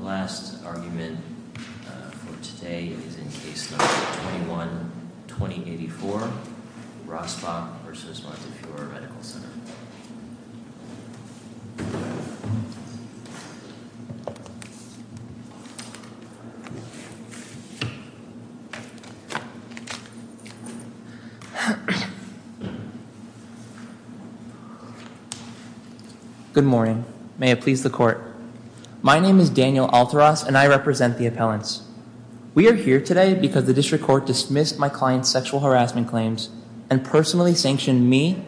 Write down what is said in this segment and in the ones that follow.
The last argument for today is in Case No. 21-2084, Rossbach v. Montefiore Medical Center. Good morning. May it please the court. My name is Daniel Alteras and I represent the appellants. We are here today because the district court dismissed my client's sexual harassment claims and personally sanctioned me,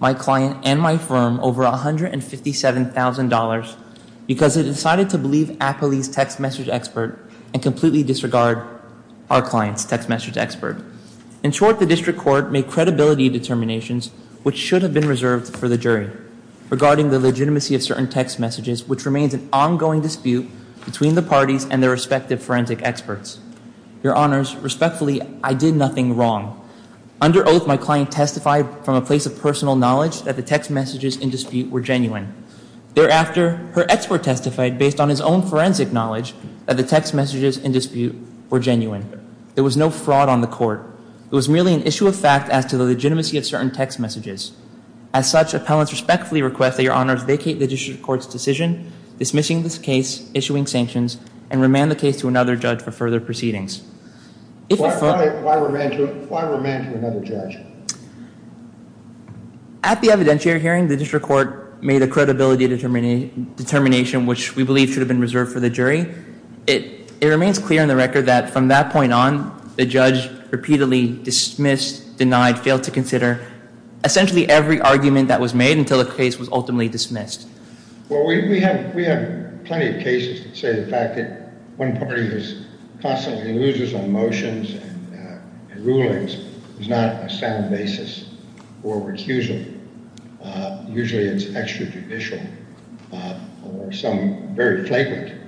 my client, and my firm over $157,000 because it decided to believe Apolli's text message expert and completely disregard our client's text message expert. In short, the district court made credibility determinations, which should have been reserved for the jury, regarding the legitimacy of certain text messages, which remains an ongoing dispute between the parties and their respective forensic experts. Your Honors, respectfully, I did nothing wrong. Under oath, my client testified from a place of personal knowledge that the text messages in dispute were genuine. Thereafter, her expert testified, based on his own forensic knowledge, that the text messages in dispute were genuine. There was no fraud on the court. It was merely an issue of fact as to the legitimacy of certain text messages. As such, appellants respectfully request that Your Honors vacate the district court's decision dismissing this case, issuing sanctions, and remand the case to another judge for further proceedings. Why remand to another judge? At the evidentiary hearing, the district court made a credibility determination, which we believe should have been reserved for the jury. It remains clear on the record that from that point on, the judge repeatedly dismissed, denied, failed to consider essentially every argument that was made until the case was ultimately dismissed. Well, we have plenty of cases that say the fact that one party constantly loses on motions and rulings is not a sound basis for recusal. Usually, it's extrajudicial or some very flagrant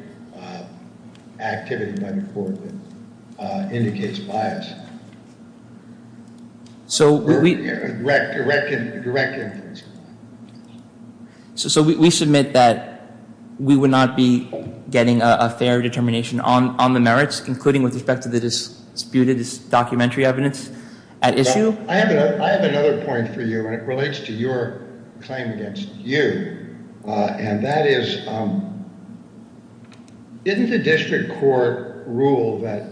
activity by the court that indicates bias. Direct inference. So we submit that we would not be getting a fair determination on the merits, including with respect to the disputed documentary evidence at issue? I have another point for you, and it relates to your claim against you. And that is, didn't the district court rule that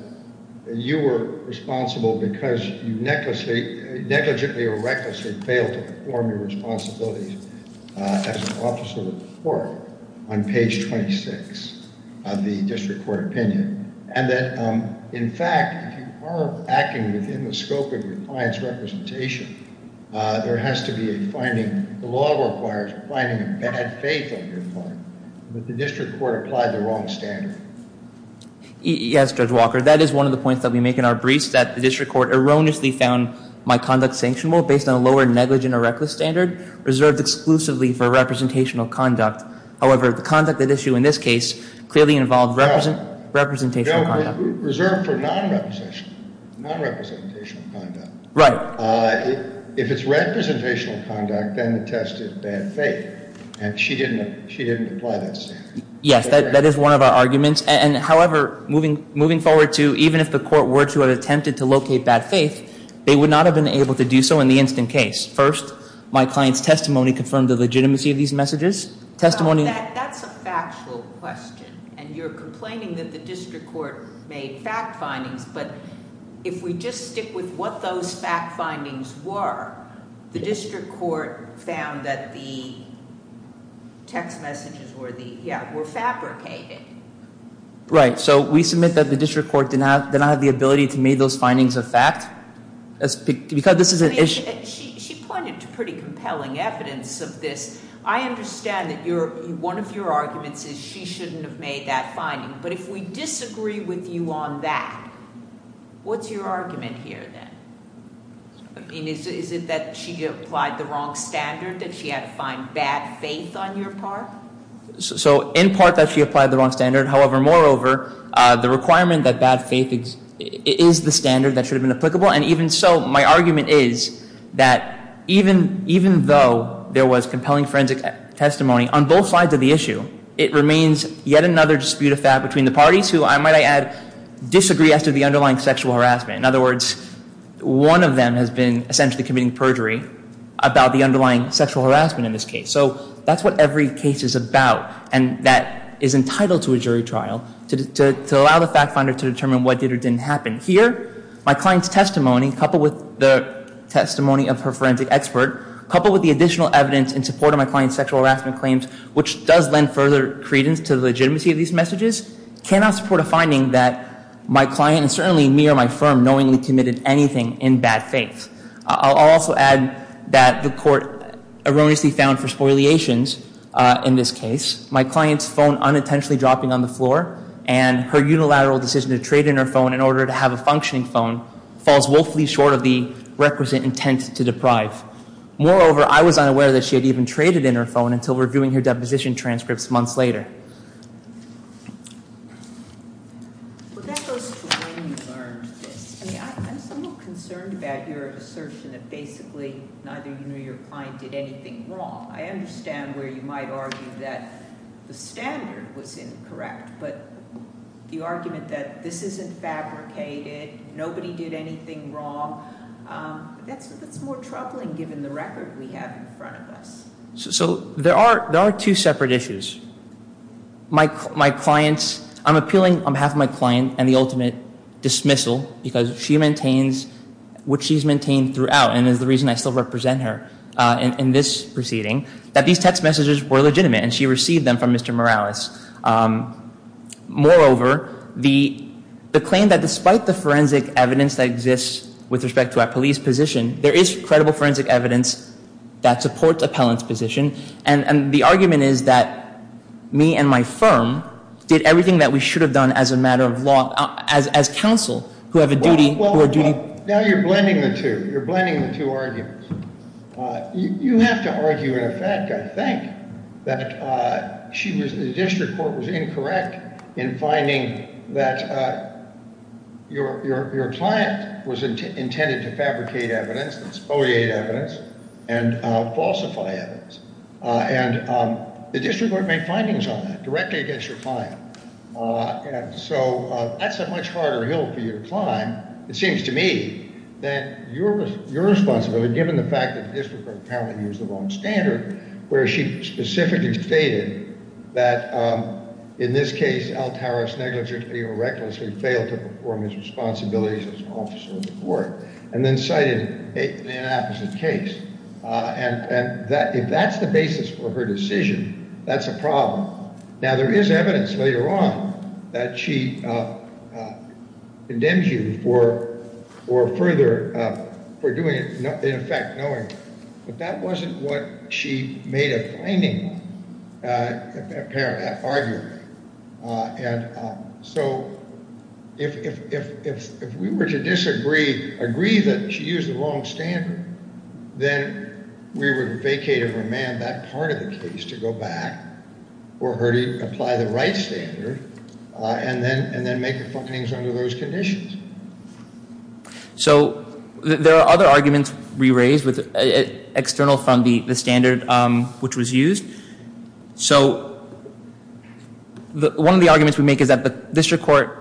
you were responsible because you negligently or recklessly failed to perform your responsibilities as an officer of the court on page 26 of the district court opinion? And that, in fact, if you are acting within the scope of your client's representation, there has to be a finding. The law requires finding a bad faith of your client. But the district court applied the wrong standard. Yes, Judge Walker. That is one of the points that we make in our briefs, that the district court erroneously found my conduct sanctionable based on a lower negligent or reckless standard reserved exclusively for representational conduct. However, the conduct at issue in this case clearly involved representational conduct. No, reserved for non-representational conduct. Right. If it's representational conduct, then the test is bad faith. And she didn't apply that standard. Yes, that is one of our arguments. And however, moving forward to even if the court were to have attempted to locate bad faith, they would not have been able to do so in the instant case. First, my client's testimony confirmed the legitimacy of these messages. That's a factual question. And you're complaining that the district court made fact findings. But if we just stick with what those fact findings were, the district court found that the text messages were fabricated. Right. So we submit that the district court did not have the ability to make those findings a fact because this is an issue. She pointed to pretty compelling evidence of this. I understand that one of your arguments is she shouldn't have made that finding. But if we disagree with you on that, what's your argument here then? Is it that she applied the wrong standard, that she had to find bad faith on your part? So in part that she applied the wrong standard. However, moreover, the requirement that bad faith is the standard that should have been applicable. And even so, my argument is that even though there was compelling forensic testimony on both sides of the issue, it remains yet another dispute of fact between the parties who, I might add, disagree as to the underlying sexual harassment. In other words, one of them has been essentially committing perjury about the underlying sexual harassment in this case. So that's what every case is about, and that is entitled to a jury trial to allow the fact finder to determine what did or didn't happen. Here, my client's testimony, coupled with the testimony of her forensic expert, coupled with the additional evidence in support of my client's sexual harassment claims, which does lend further credence to the legitimacy of these messages, cannot support a finding that my client, and certainly me or my firm, knowingly committed anything in bad faith. I'll also add that the court erroneously found for spoiliations in this case, my client's phone unintentionally dropping on the floor, and her unilateral decision to trade in her phone in order to have a functioning phone falls woefully short of the requisite intent to deprive. Moreover, I was unaware that she had even traded in her phone until reviewing her deposition transcripts months later. Well, that goes to when you learned this. I mean, I'm somewhat concerned about your assertion that basically neither you nor your client did anything wrong. I understand where you might argue that the standard was incorrect, but the argument that this isn't fabricated, nobody did anything wrong, that's more troubling given the record we have in front of us. So there are two separate issues. My client's, I'm appealing on behalf of my client and the ultimate dismissal, because she maintains what she's maintained throughout, and is the reason I still represent her in this proceeding, that these text messages were legitimate and she received them from Mr. Morales. Moreover, the claim that despite the forensic evidence that exists with respect to our police position, there is credible forensic evidence that supports appellant's position, and the argument is that me and my firm did everything that we should have done as a matter of law, as counsel who have a duty. Well, now you're blending the two. You're blending the two arguments. You have to argue in effect, I think, that the district court was incorrect in finding that your client was intended to fabricate evidence, exploit evidence, and falsify evidence. And the district court made findings on that directly against your client. So that's a much harder hill for you to climb, it seems to me, than your responsibility, given the fact that the district court apparently used the wrong standard, where she specifically stated that in this case, Altaros negligently or recklessly failed to perform his responsibilities as an officer of the court, and then cited an inopposite case. And if that's the basis for her decision, that's a problem. Now, there is evidence later on that she condemns you for further, for doing it, in effect, knowing, but that wasn't what she made a finding on, apparently, arguably. And so if we were to disagree, agree that she used the wrong standard, then we would vacate or remand that part of the case to go back or her to apply the right standard and then make findings under those conditions. So there are other arguments we raised external from the standard which was used. So one of the arguments we make is that the district court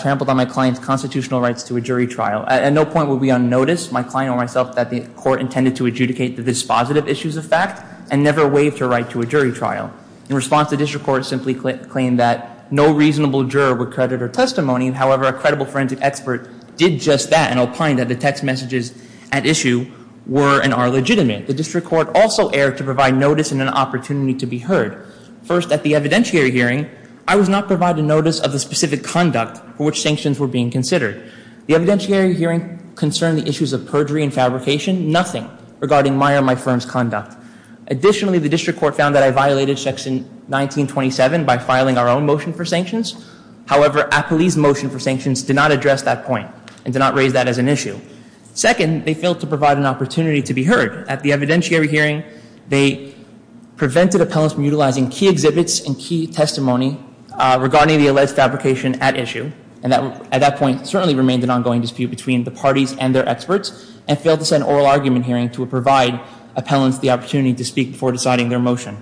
trampled on my client's constitutional rights to a jury trial. At no point were we unnoticed, my client or myself, that the court intended to adjudicate the dispositive issues of fact and never waived her right to a jury trial. In response, the district court simply claimed that no reasonable juror would credit her testimony. However, a credible forensic expert did just that and opined that the text messages at issue were and are legitimate. The district court also erred to provide notice and an opportunity to be heard. First, at the evidentiary hearing, I was not provided notice of the specific conduct for which sanctions were being considered. The evidentiary hearing concerned the issues of perjury and fabrication, nothing regarding my or my firm's conduct. Additionally, the district court found that I violated section 1927 by filing our own motion for sanctions. However, Appley's motion for sanctions did not address that point and did not raise that as an issue. Second, they failed to provide an opportunity to be heard. At the evidentiary hearing, they prevented appellants from utilizing key exhibits and key testimony regarding the alleged fabrication at issue. And that, at that point, certainly remained an ongoing dispute between the parties and their experts and failed to send an oral argument hearing to provide appellants the opportunity to speak before deciding their motion.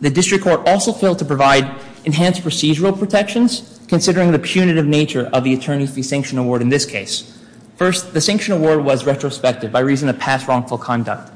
The district court also failed to provide enhanced procedural protections, considering the punitive nature of the attorney-free sanction award in this case. First, the sanction award was retrospective by reason of past wrongful conduct.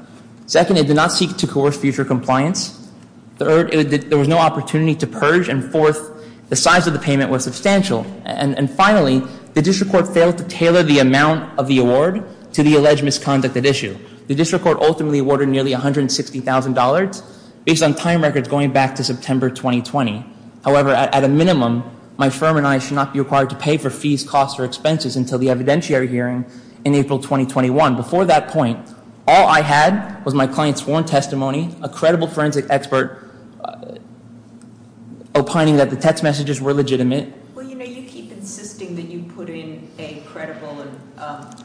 Second, it did not seek to coerce future compliance. Third, there was no opportunity to purge. And fourth, the size of the payment was substantial. And finally, the district court failed to tailor the amount of the award to the alleged misconduct at issue. The district court ultimately awarded nearly $160,000 based on time records going back to September 2020. However, at a minimum, my firm and I should not be required to pay for fees, costs, or expenses until the evidentiary hearing in April 2021. Before that point, all I had was my client's sworn testimony, a credible forensic expert opining that the text messages were legitimate. Well, you know, you keep insisting that you put in a credible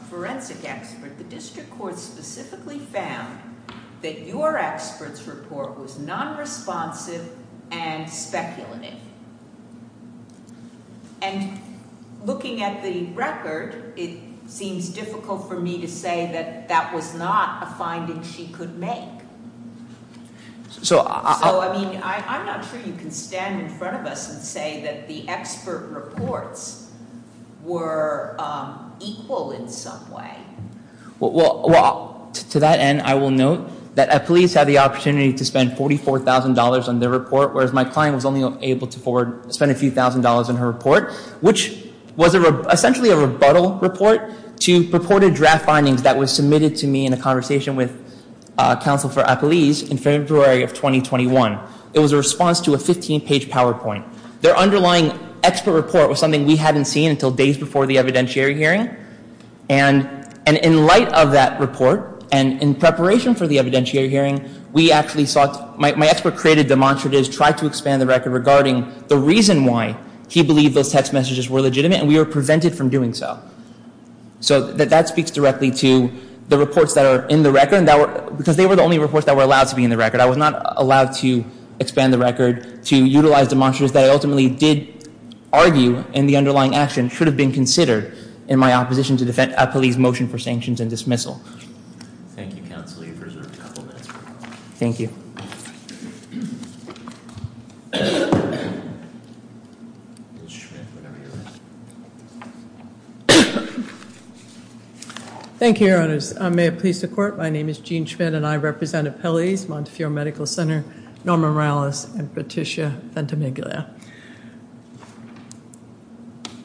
forensic expert. The district court specifically found that your expert's report was non-responsive and speculative. And looking at the record, it seems difficult for me to say that that was not a finding she could make. So, I mean, I'm not sure you can stand in front of us and say that the expert reports were equal in some way. Well, to that end, I will note that Eppolese had the opportunity to spend $44,000 on their report, whereas my client was only able to spend a few thousand dollars on her report, which was essentially a rebuttal report to purported draft findings that were submitted to me in a conversation with counsel for Eppolese in February of 2021. It was a response to a 15-page PowerPoint. Their underlying expert report was something we hadn't seen until days before the evidentiary hearing. And in light of that report and in preparation for the evidentiary hearing, my expert created demonstratives, tried to expand the record regarding the reason why he believed those text messages were legitimate, and we were prevented from doing so. So that speaks directly to the reports that are in the record, because they were the only reports that were allowed to be in the record. I was not allowed to expand the record to utilize demonstratives that I ultimately did argue in the underlying action should have been considered in my opposition to Eppolese's motion for sanctions and dismissal. Thank you, counsel. You've reserved a couple of minutes. Thank you. Thank you, Your Honors. May it please the court. My name is Jean Schmidt and I represent Eppolese, Montefiore Medical Center, Norma Morales, and Patricia Ventimiglia.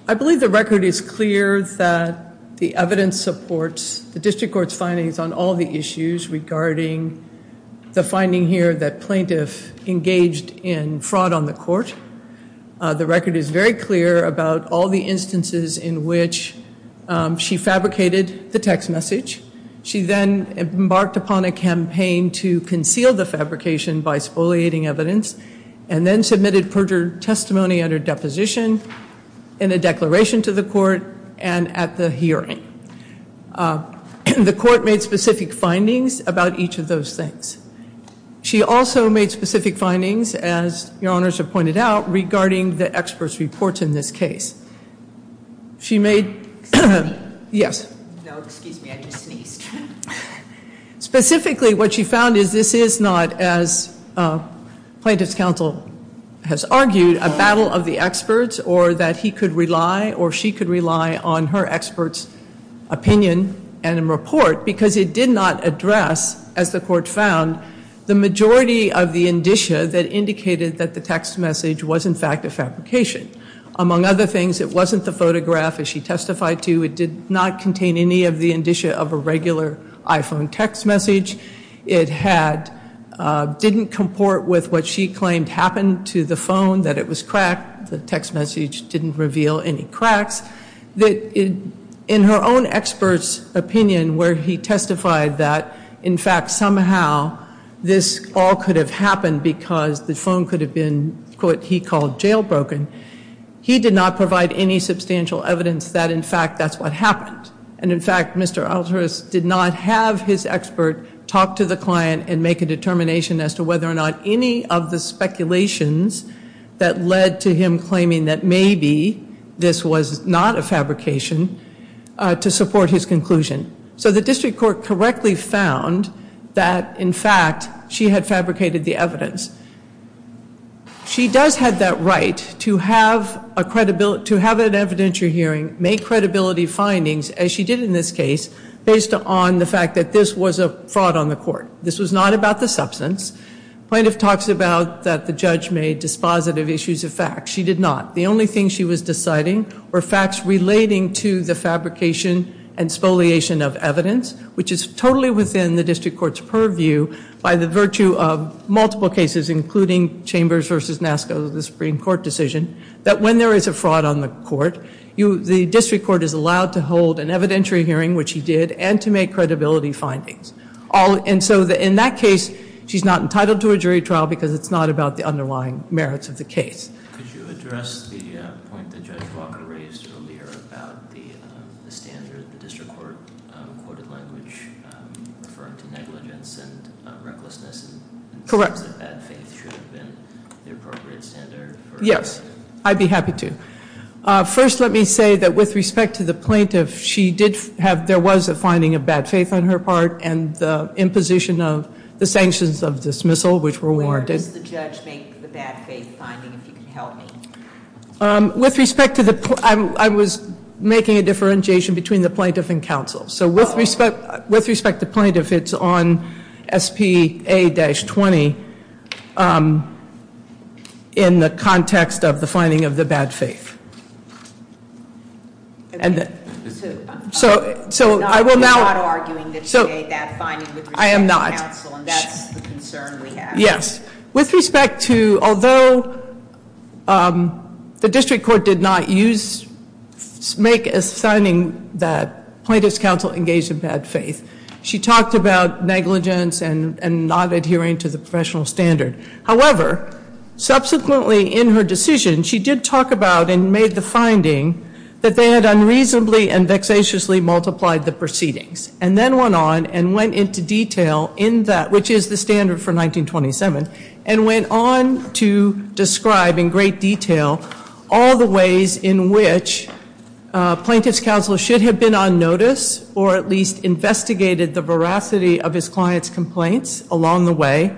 I believe the record is clear that the evidence supports the district court's findings on all the issues regarding the finding here that plaintiff engaged in fraud on the court. The record is very clear about all the instances in which she fabricated the text message. She then embarked upon a campaign to conceal the fabrication by spoliating evidence and then submitted perjured testimony under deposition in a declaration to the court and at the hearing. The court made specific findings about each of those things. She also made specific findings, as Your Honors have pointed out, regarding the experts' reports in this case. She made... Excuse me. Yes. No, excuse me. I just sneezed. Specifically, what she found is this is not, as plaintiff's counsel has argued, a battle of the experts or that he could rely or she could rely on her expert's opinion and report because it did not address, as the court found, the majority of the indicia that indicated that the text message was, in fact, a fabrication. Among other things, it wasn't the photograph, as she testified to. It did not contain any of the indicia of a regular iPhone text message. It didn't comport with what she claimed happened to the phone, that it was cracked. The text message didn't reveal any cracks. In her own expert's opinion, where he testified that, in fact, somehow, this all could have happened because the phone could have been, quote, he called, jailbroken, he did not provide any substantial evidence that, in fact, that's what happened. And, in fact, Mr. Alteris did not have his expert talk to the client and make a determination as to whether or not any of the speculations that led to him claiming that maybe this was not a fabrication to support his conclusion. So the district court correctly found that, in fact, she had fabricated the evidence. She does have that right to have an evidentiary hearing, make credibility findings, as she did in this case, based on the fact that this was a fraud on the court. This was not about the substance. Plaintiff talks about that the judge made dispositive issues of facts. She did not. The only thing she was deciding were facts relating to the fabrication and spoliation of evidence, which is totally within the district court's purview by the virtue of multiple cases, including Chambers v. Nasco, the Supreme Court decision, that when there is a fraud on the court, the district court is allowed to hold an evidentiary hearing, which he did, and to make credibility findings. And so, in that case, she's not entitled to a jury trial because it's not about the underlying merits of the case. Could you address the point that Judge Walker raised earlier about the standard, the district court quoted language referring to negligence and recklessness in terms of bad faith should have been the appropriate standard? Yes, I'd be happy to. First, let me say that with respect to the plaintiff, she did have, there was a finding of bad faith on her part and the imposition of the sanctions of dismissal, which were warranted. How does the judge make the bad faith finding, if you can help me? With respect to the, I was making a differentiation between the plaintiff and counsel. So, with respect to plaintiff, it's on SPA-20 in the context of the finding of the bad faith. So, I will now- You're not arguing that she made that finding with respect to counsel and that's the concern we have. Yes. With respect to, although the district court did not use, make a signing that plaintiff's counsel engaged in bad faith, she talked about negligence and not adhering to the professional standard. However, subsequently in her decision, she did talk about and made the finding that they had unreasonably and vexatiously multiplied the proceedings and then went on and went into detail in that, which is the standard for 1927, and went on to describe in great detail all the ways in which plaintiff's counsel should have been on notice or at least investigated the veracity of his client's complaints along the way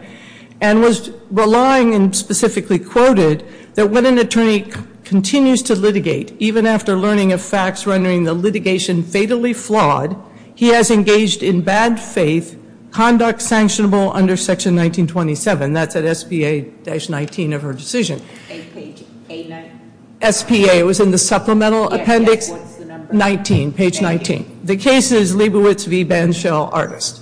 and was relying and specifically quoted that when an attorney continues to litigate, even after learning of facts rendering the litigation fatally flawed, he has engaged in bad faith conduct sanctionable under section 1927. That's at SPA-19 of her decision. Page A-19. SPA, it was in the supplemental appendix- Yes, yes, what's the number? 19, page 19. The case is Leibowitz v. Banshell, Artist.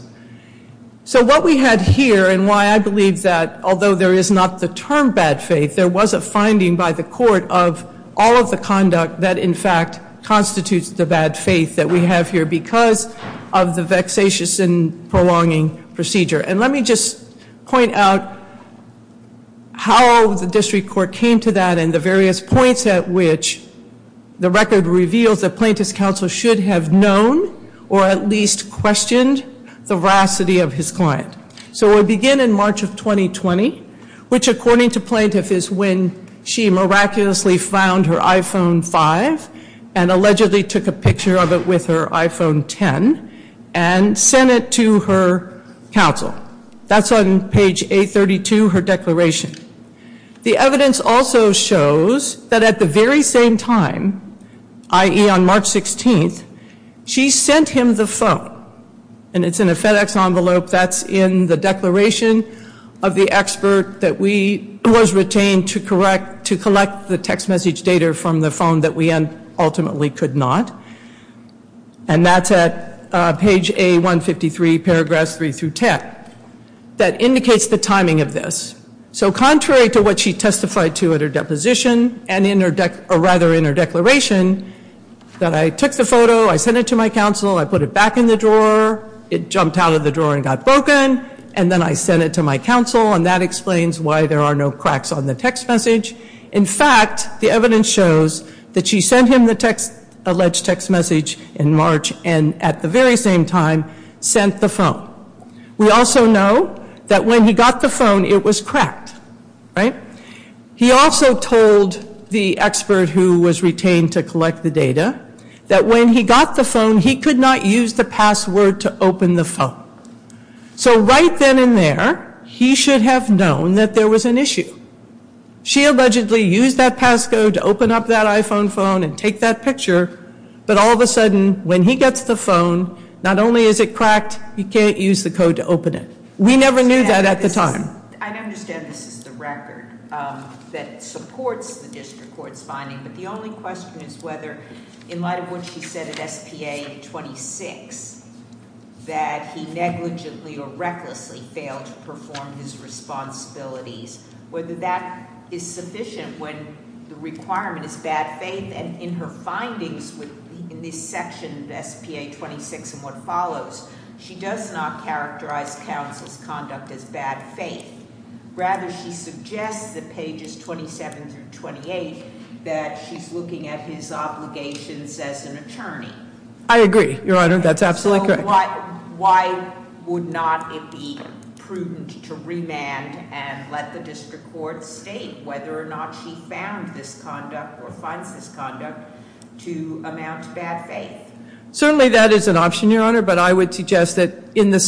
So, what we had here and why I believe that although there is not the term bad faith, there was a finding by the court of all of the conduct that in fact constitutes the bad faith that we have here because of the vexatious and prolonging procedure. And let me just point out how the district court came to that and the various points at which the record reveals that plaintiff's counsel should have known or at least questioned the veracity of his client. So, we begin in March of 2020, which according to plaintiff is when she miraculously found her iPhone 5 and allegedly took a picture of it with her iPhone 10 and sent it to her counsel. That's on page A-32, her declaration. The evidence also shows that at the very same time, i.e. on March 16th, she sent him the phone and it's in a FedEx envelope that's in the declaration of the expert that was retained to collect the text message data from the phone that we ultimately could not. And that's at page A-153, paragraphs 3-10, that indicates the timing of this. So, contrary to what she testified to at her deposition and rather in her declaration, that I took the photo, I sent it to my counsel, I put it back in the drawer, it jumped out of the drawer and got broken and then I sent it to my counsel and that explains why there are no cracks on the text message. In fact, the evidence shows that she sent him the alleged text message in March and at the very same time sent the phone. We also know that when he got the phone, it was cracked, right? He also told the expert who was retained to collect the data that when he got the phone, he could not use the password to open the phone. So right then and there, he should have known that there was an issue. She allegedly used that passcode to open up that iPhone phone and take that picture, but all of a sudden when he gets the phone, not only is it cracked, he can't use the code to open it. We never knew that at the time. I understand this is the record that supports the district court's finding, but the only question is whether in light of what she said at SPA 26, that he negligently or recklessly failed to perform his responsibilities, whether that is sufficient when the requirement is bad faith and in her findings in this section of SPA 26 and what follows, she does not characterize counsel's conduct as bad faith. Rather, she suggests that pages 27 through 28 that she's looking at his obligations as an attorney. I agree, Your Honor, that's absolutely correct. So why would not it be prudent to remand and let the district court state whether or not she found this conduct or finds this conduct to amount to bad faith? Certainly that is an option, Your Honor, but I would suggest that in the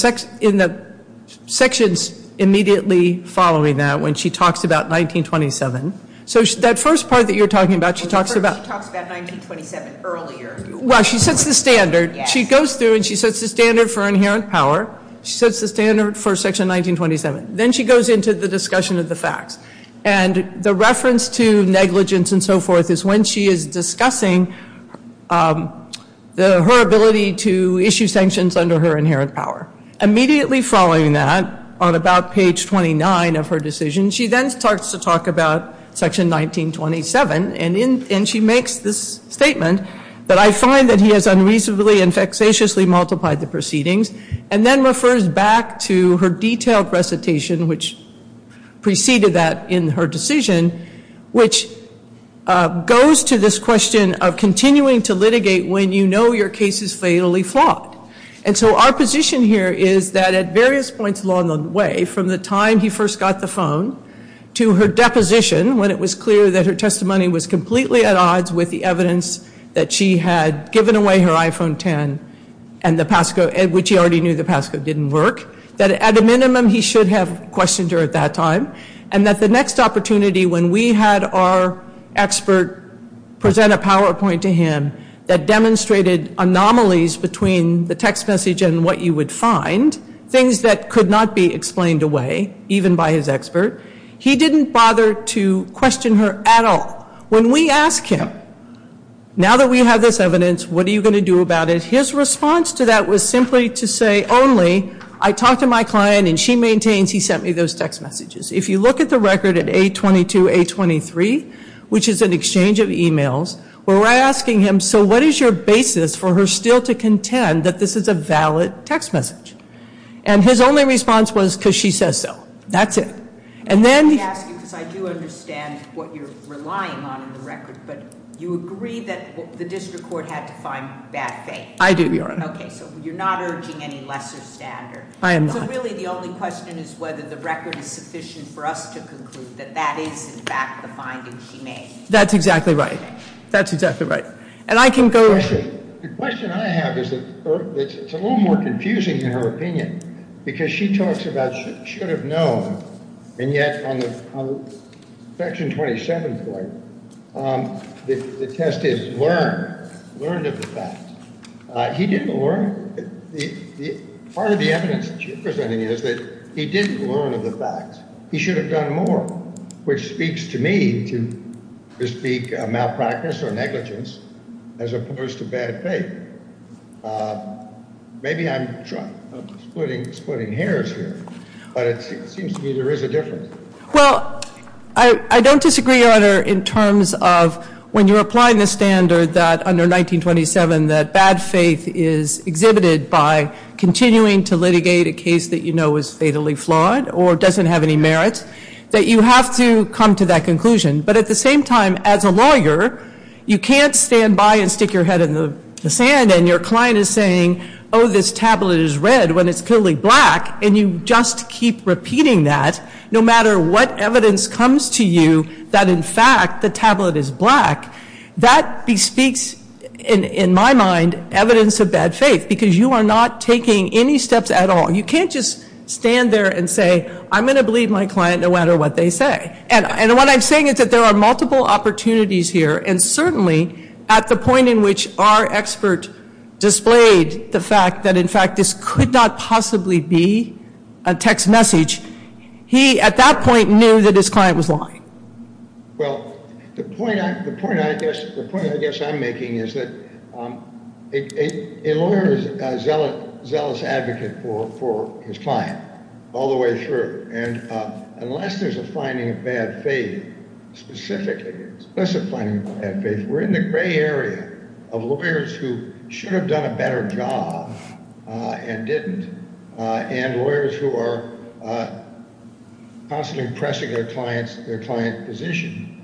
sections immediately following that, when she talks about 1927, so that first part that you're talking about, she talks about She talks about 1927 earlier. Well, she sets the standard. She goes through and she sets the standard for inherent power. She sets the standard for section 1927. Then she goes into the discussion of the facts, and the reference to negligence and so forth is when she is discussing her ability to issue sanctions under her inherent power. Immediately following that, on about page 29 of her decision, she then starts to talk about section 1927, and she makes this statement that I find that he has unreasonably and vexatiously multiplied the proceedings and then refers back to her detailed recitation, which preceded that in her decision, which goes to this question of continuing to litigate when you know your case is fatally flawed. And so our position here is that at various points along the way, from the time he first got the phone to her deposition, when it was clear that her testimony was completely at odds with the evidence that she had given away her iPhone X, which he already knew the passcode didn't work, that at a minimum he should have questioned her at that time, and that the next opportunity when we had our expert present a PowerPoint to him that demonstrated anomalies between the text message and what you would find, things that could not be explained away, even by his expert, he didn't bother to question her at all. When we asked him, now that we have this evidence, what are you going to do about it, his response to that was simply to say only, I talked to my client and she maintains he sent me those text messages. If you look at the record at A-22, A-23, which is an exchange of e-mails, where we're asking him, so what is your basis for her still to contend that this is a valid text message? And his only response was because she says so. That's it. And then... I ask you because I do understand what you're relying on in the record, but you agree that the district court had to find bad faith. I do, Your Honor. Okay, so you're not urging any lesser standard. I am not. So really the only question is whether the record is sufficient for us to conclude that that is, in fact, the finding she made. That's exactly right. That's exactly right. And I can go... The question I have is that it's a little more confusing in her opinion because she talks about should have known, and yet on the Section 27 point, the test is learned, learned of the fact. He didn't learn. Part of the evidence that you're presenting is that he didn't learn of the fact. He should have done more, which speaks to me to speak of malpractice or negligence as opposed to bad faith. Maybe I'm splitting hairs here, but it seems to me there is a difference. Well, I don't disagree, Your Honor, in terms of when you're applying the standard that under 1927 that bad faith is exhibited by continuing to litigate a case that you know is fatally flawed or doesn't have any merit, that you have to come to that conclusion. But at the same time, as a lawyer, you can't stand by and stick your head in the sand and your client is saying, oh, this tablet is red when it's clearly black, and you just keep repeating that no matter what evidence comes to you that, in fact, the tablet is black. That speaks, in my mind, evidence of bad faith because you are not taking any steps at all. You can't just stand there and say, I'm going to believe my client no matter what they say. And what I'm saying is that there are multiple opportunities here, and certainly at the point in which our expert displayed the fact that, in fact, this could not possibly be a text message, he, at that point, knew that his client was lying. Well, the point I guess I'm making is that a lawyer is a zealous advocate for his client all the way through, and unless there's a finding of bad faith, specifically, we're in the gray area of lawyers who should have done a better job and didn't, and lawyers who are constantly pressing their client's position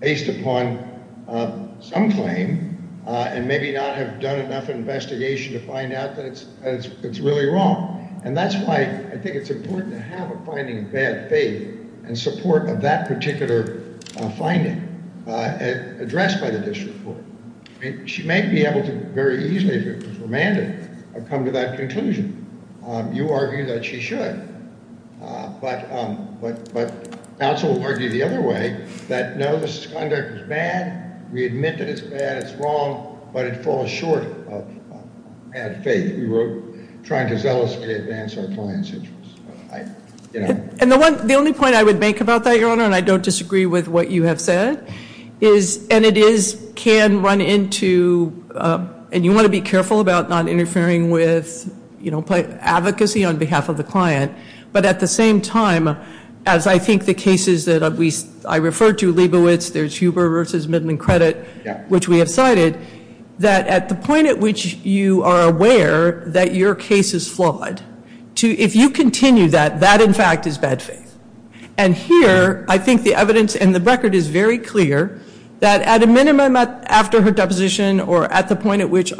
based upon some claim and maybe not have done enough investigation to find out that it's really wrong. And that's why I think it's important to have a finding of bad faith and support of that particular finding addressed by the district court. She may be able to very easily, if it was remanded, come to that conclusion. You argue that she should, but counsel will argue the other way, that no, this conduct is bad. We admit that it's bad, it's wrong, but it falls short of bad faith. We were trying to zealously advance our client's interests. And the only point I would make about that, Your Honor, and I don't disagree with what you have said, is, and it is, can run into, and you want to be careful about not interfering with advocacy on behalf of the client, but at the same time, as I think the cases that I refer to, Leibowitz, there's Huber v. Midland Credit, which we have cited, that at the point at which you are aware that your case is flawed, if you continue that, that, in fact, is bad faith. And here, I think the evidence and the record is very clear, that at a minimum, after her deposition, or at the point at which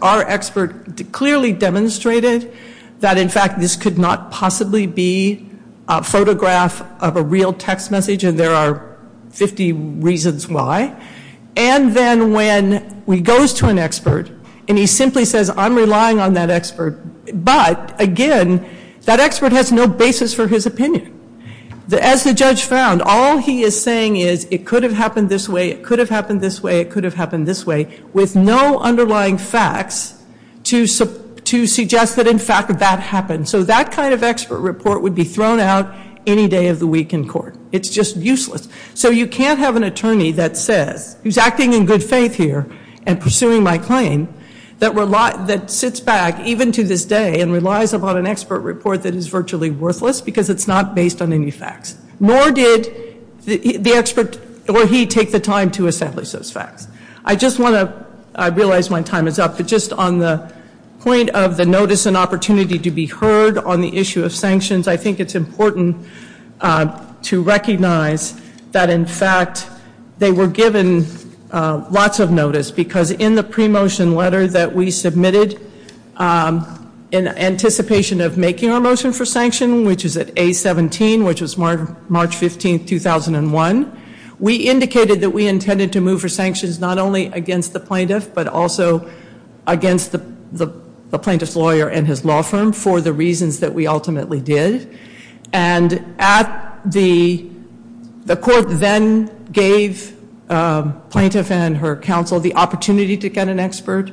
our expert clearly demonstrated that, in fact, this could not possibly be a photograph of a real text message, and there are 50 reasons why, and then when he goes to an expert and he simply says, I'm relying on that expert, but, again, that expert has no basis for his opinion. As the judge found, all he is saying is, it could have happened this way, it could have happened this way, it could have happened this way, with no underlying facts to suggest that, in fact, that happened. So that kind of expert report would be thrown out any day of the week in court. It's just useless. So you can't have an attorney that says, who's acting in good faith here and pursuing my claim, that sits back, even to this day, and relies upon an expert report that is virtually worthless, because it's not based on any facts. Nor did the expert, or he, take the time to establish those facts. I just want to, I realize my time is up, but just on the point of the notice and opportunity to be heard on the issue of sanctions, I think it's important to recognize that, in fact, they were given lots of notice, because in the pre-motion letter that we submitted, in anticipation of making our motion for sanction, which is at A17, which was March 15, 2001, we indicated that we intended to move for sanctions not only against the plaintiff, but also against the plaintiff's lawyer and his law firm, for the reasons that we ultimately did. And at the, the court then gave plaintiff and her counsel the opportunity to get an expert.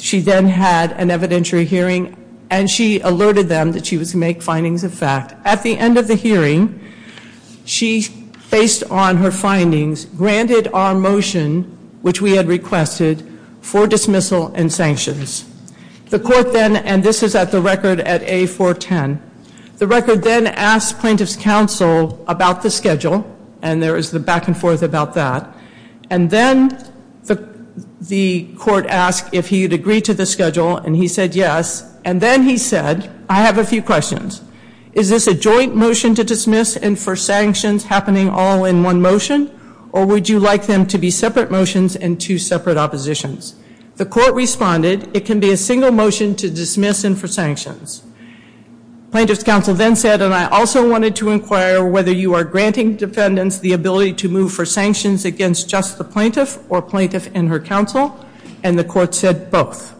She then had an evidentiary hearing, and she alerted them that she was to make findings of fact. At the end of the hearing, she, based on her findings, granted our motion, which we had requested, for dismissal and sanctions. The court then, and this is at the record at A410, the record then asked plaintiff's counsel about the schedule, and there is the back and forth about that. And then the court asked if he had agreed to the schedule, and he said yes. And then he said, I have a few questions. Is this a joint motion to dismiss and for sanctions happening all in one motion, or would you like them to be separate motions and two separate oppositions? The court responded, it can be a single motion to dismiss and for sanctions. Plaintiff's counsel then said, and I also wanted to inquire whether you are granting defendants the ability to move for sanctions against just the plaintiff or plaintiff and her counsel, and the court said both.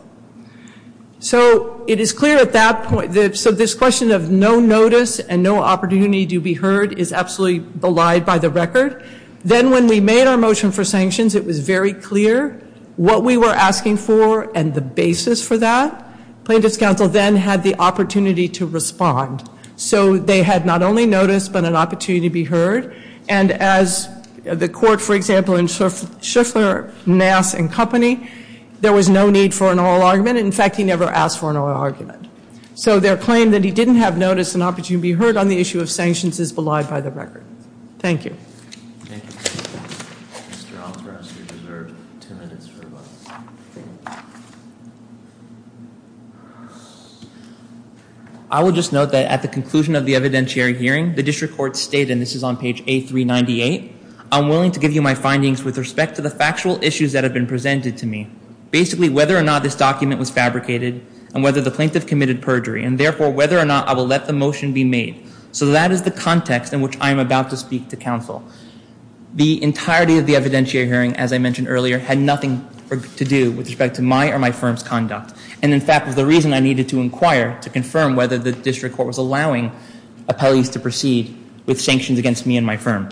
So it is clear at that point, so this question of no notice and no opportunity to be heard is absolutely belied by the record. Then when we made our motion for sanctions, it was very clear what we were asking for and the basis for that. Plaintiff's counsel then had the opportunity to respond. So they had not only notice, but an opportunity to be heard. And as the court, for example, in Shuffler, Nass, and Company, there was no need for an oral argument. In fact, he never asked for an oral argument. So their claim that he didn't have notice and opportunity to be heard on the issue of sanctions is belied by the record. Thank you. I will just note that at the conclusion of the evidentiary hearing, the district court stated, and this is on page A398, I'm willing to give you my findings with respect to the factual issues that have been presented to me, basically whether or not this document was fabricated and whether the plaintiff committed perjury, and therefore whether or not I will let the motion be made. So that is the context in which I am about to speak to counsel. The entirety of the evidentiary hearing, as I mentioned earlier, had nothing to do with respect to my or my firm's conduct, and in fact was the reason I needed to inquire to confirm whether the district court was allowing appellees to proceed with sanctions against me and my firm.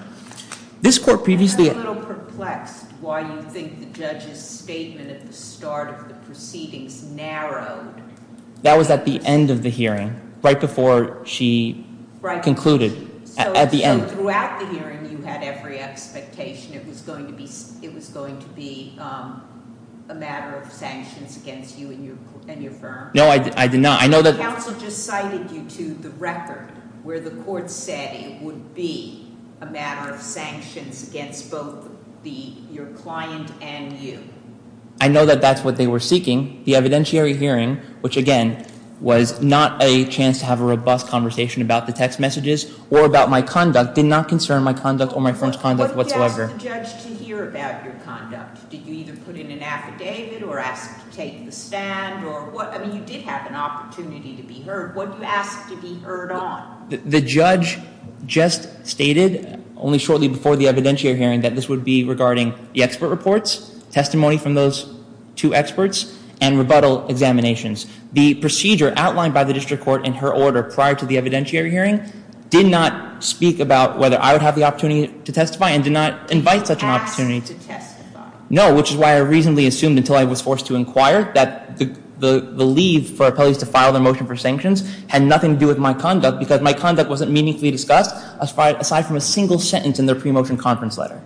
This court previously... I'm a little perplexed why you think the judge's statement at the start of the proceedings narrowed. That was at the end of the hearing, right before she concluded, at the end. So throughout the hearing you had every expectation it was going to be a matter of sanctions against you and your firm? No, I did not. I know that... Counsel just cited you to the record where the court said it would be a matter of sanctions against both your client and you. I know that that's what they were seeking. The evidentiary hearing, which again was not a chance to have a robust conversation about the text messages or about my conduct, did not concern my conduct or my firm's conduct whatsoever. What did you ask the judge to hear about your conduct? Did you either put in an affidavit or ask to take the stand or what? I mean, you did have an opportunity to be heard. What did you ask to be heard on? The judge just stated, only shortly before the evidentiary hearing, that this would be regarding the expert reports, testimony from those two experts, and rebuttal examinations. The procedure outlined by the district court in her order prior to the evidentiary hearing did not speak about whether I would have the opportunity to testify and did not invite such an opportunity to testify. No, which is why I reasonably assumed, until I was forced to inquire, that the leave for appellees to file their motion for sanctions had nothing to do with my conduct and that it wasn't meaningfully discussed, aside from a single sentence in their pre-motion conference letter.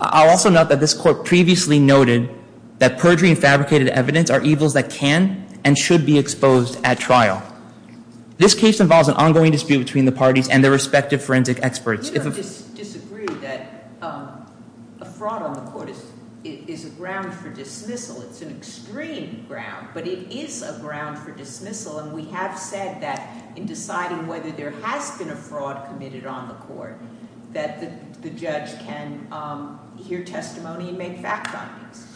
I'll also note that this court previously noted that perjury and fabricated evidence are evils that can and should be exposed at trial. This case involves an ongoing dispute between the parties and their respective forensic experts. You don't disagree that a fraud on the court is a ground for dismissal. It's an extreme ground, but it is a ground for dismissal. And we have said that in deciding whether there has been a fraud committed on the court, that the judge can hear testimony and make fact findings.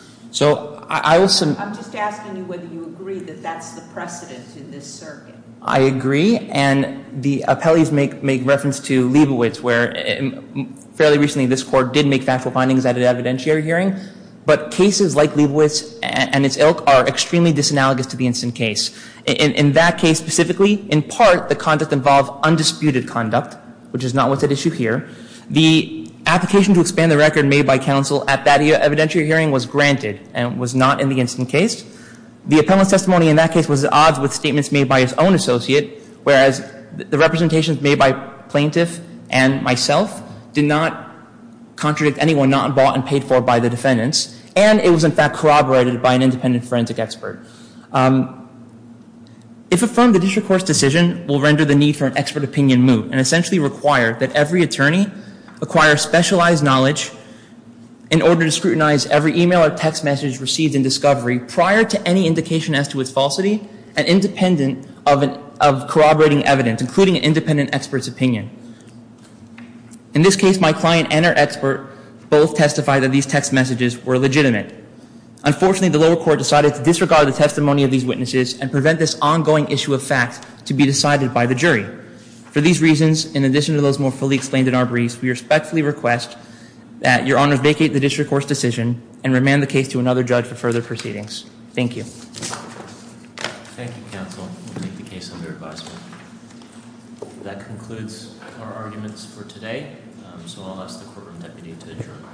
I'm just asking you whether you agree that that's the precedent in this circuit. I agree, and the appellees make reference to Leibowitz, where fairly recently this court did make factual findings at an evidentiary hearing. But cases like Leibowitz and its ilk are extremely disanalogous to the instant case. In that case specifically, in part, the conduct involved undisputed conduct, which is not what's at issue here. The application to expand the record made by counsel at that evidentiary hearing was granted and was not in the instant case. The appellant's testimony in that case was at odds with statements made by his own associate, whereas the representations made by plaintiff and myself did not contradict anyone not involved and paid for by the defendants. And it was, in fact, corroborated by an independent forensic expert. If affirmed, the district court's decision will render the need for an expert opinion moot and essentially require that every attorney acquire specialized knowledge in order to scrutinize every email or text message received in discovery prior to any indication as to its falsity and independent of corroborating evidence, including an independent expert's opinion. In this case, my client and her expert both testified that these text messages were legitimate. Unfortunately, the lower court decided to disregard the testimony of these witnesses and prevent this ongoing issue of fact to be decided by the jury. For these reasons, in addition to those more fully explained in our briefs, we respectfully request that Your Honor vacate the district court's decision and remand the case to another judge for further proceedings. Thank you. Thank you, counsel. We'll make the case under advisement. That concludes our arguments for today, so I'll ask the courtroom deputy to adjourn. Court is adjourned.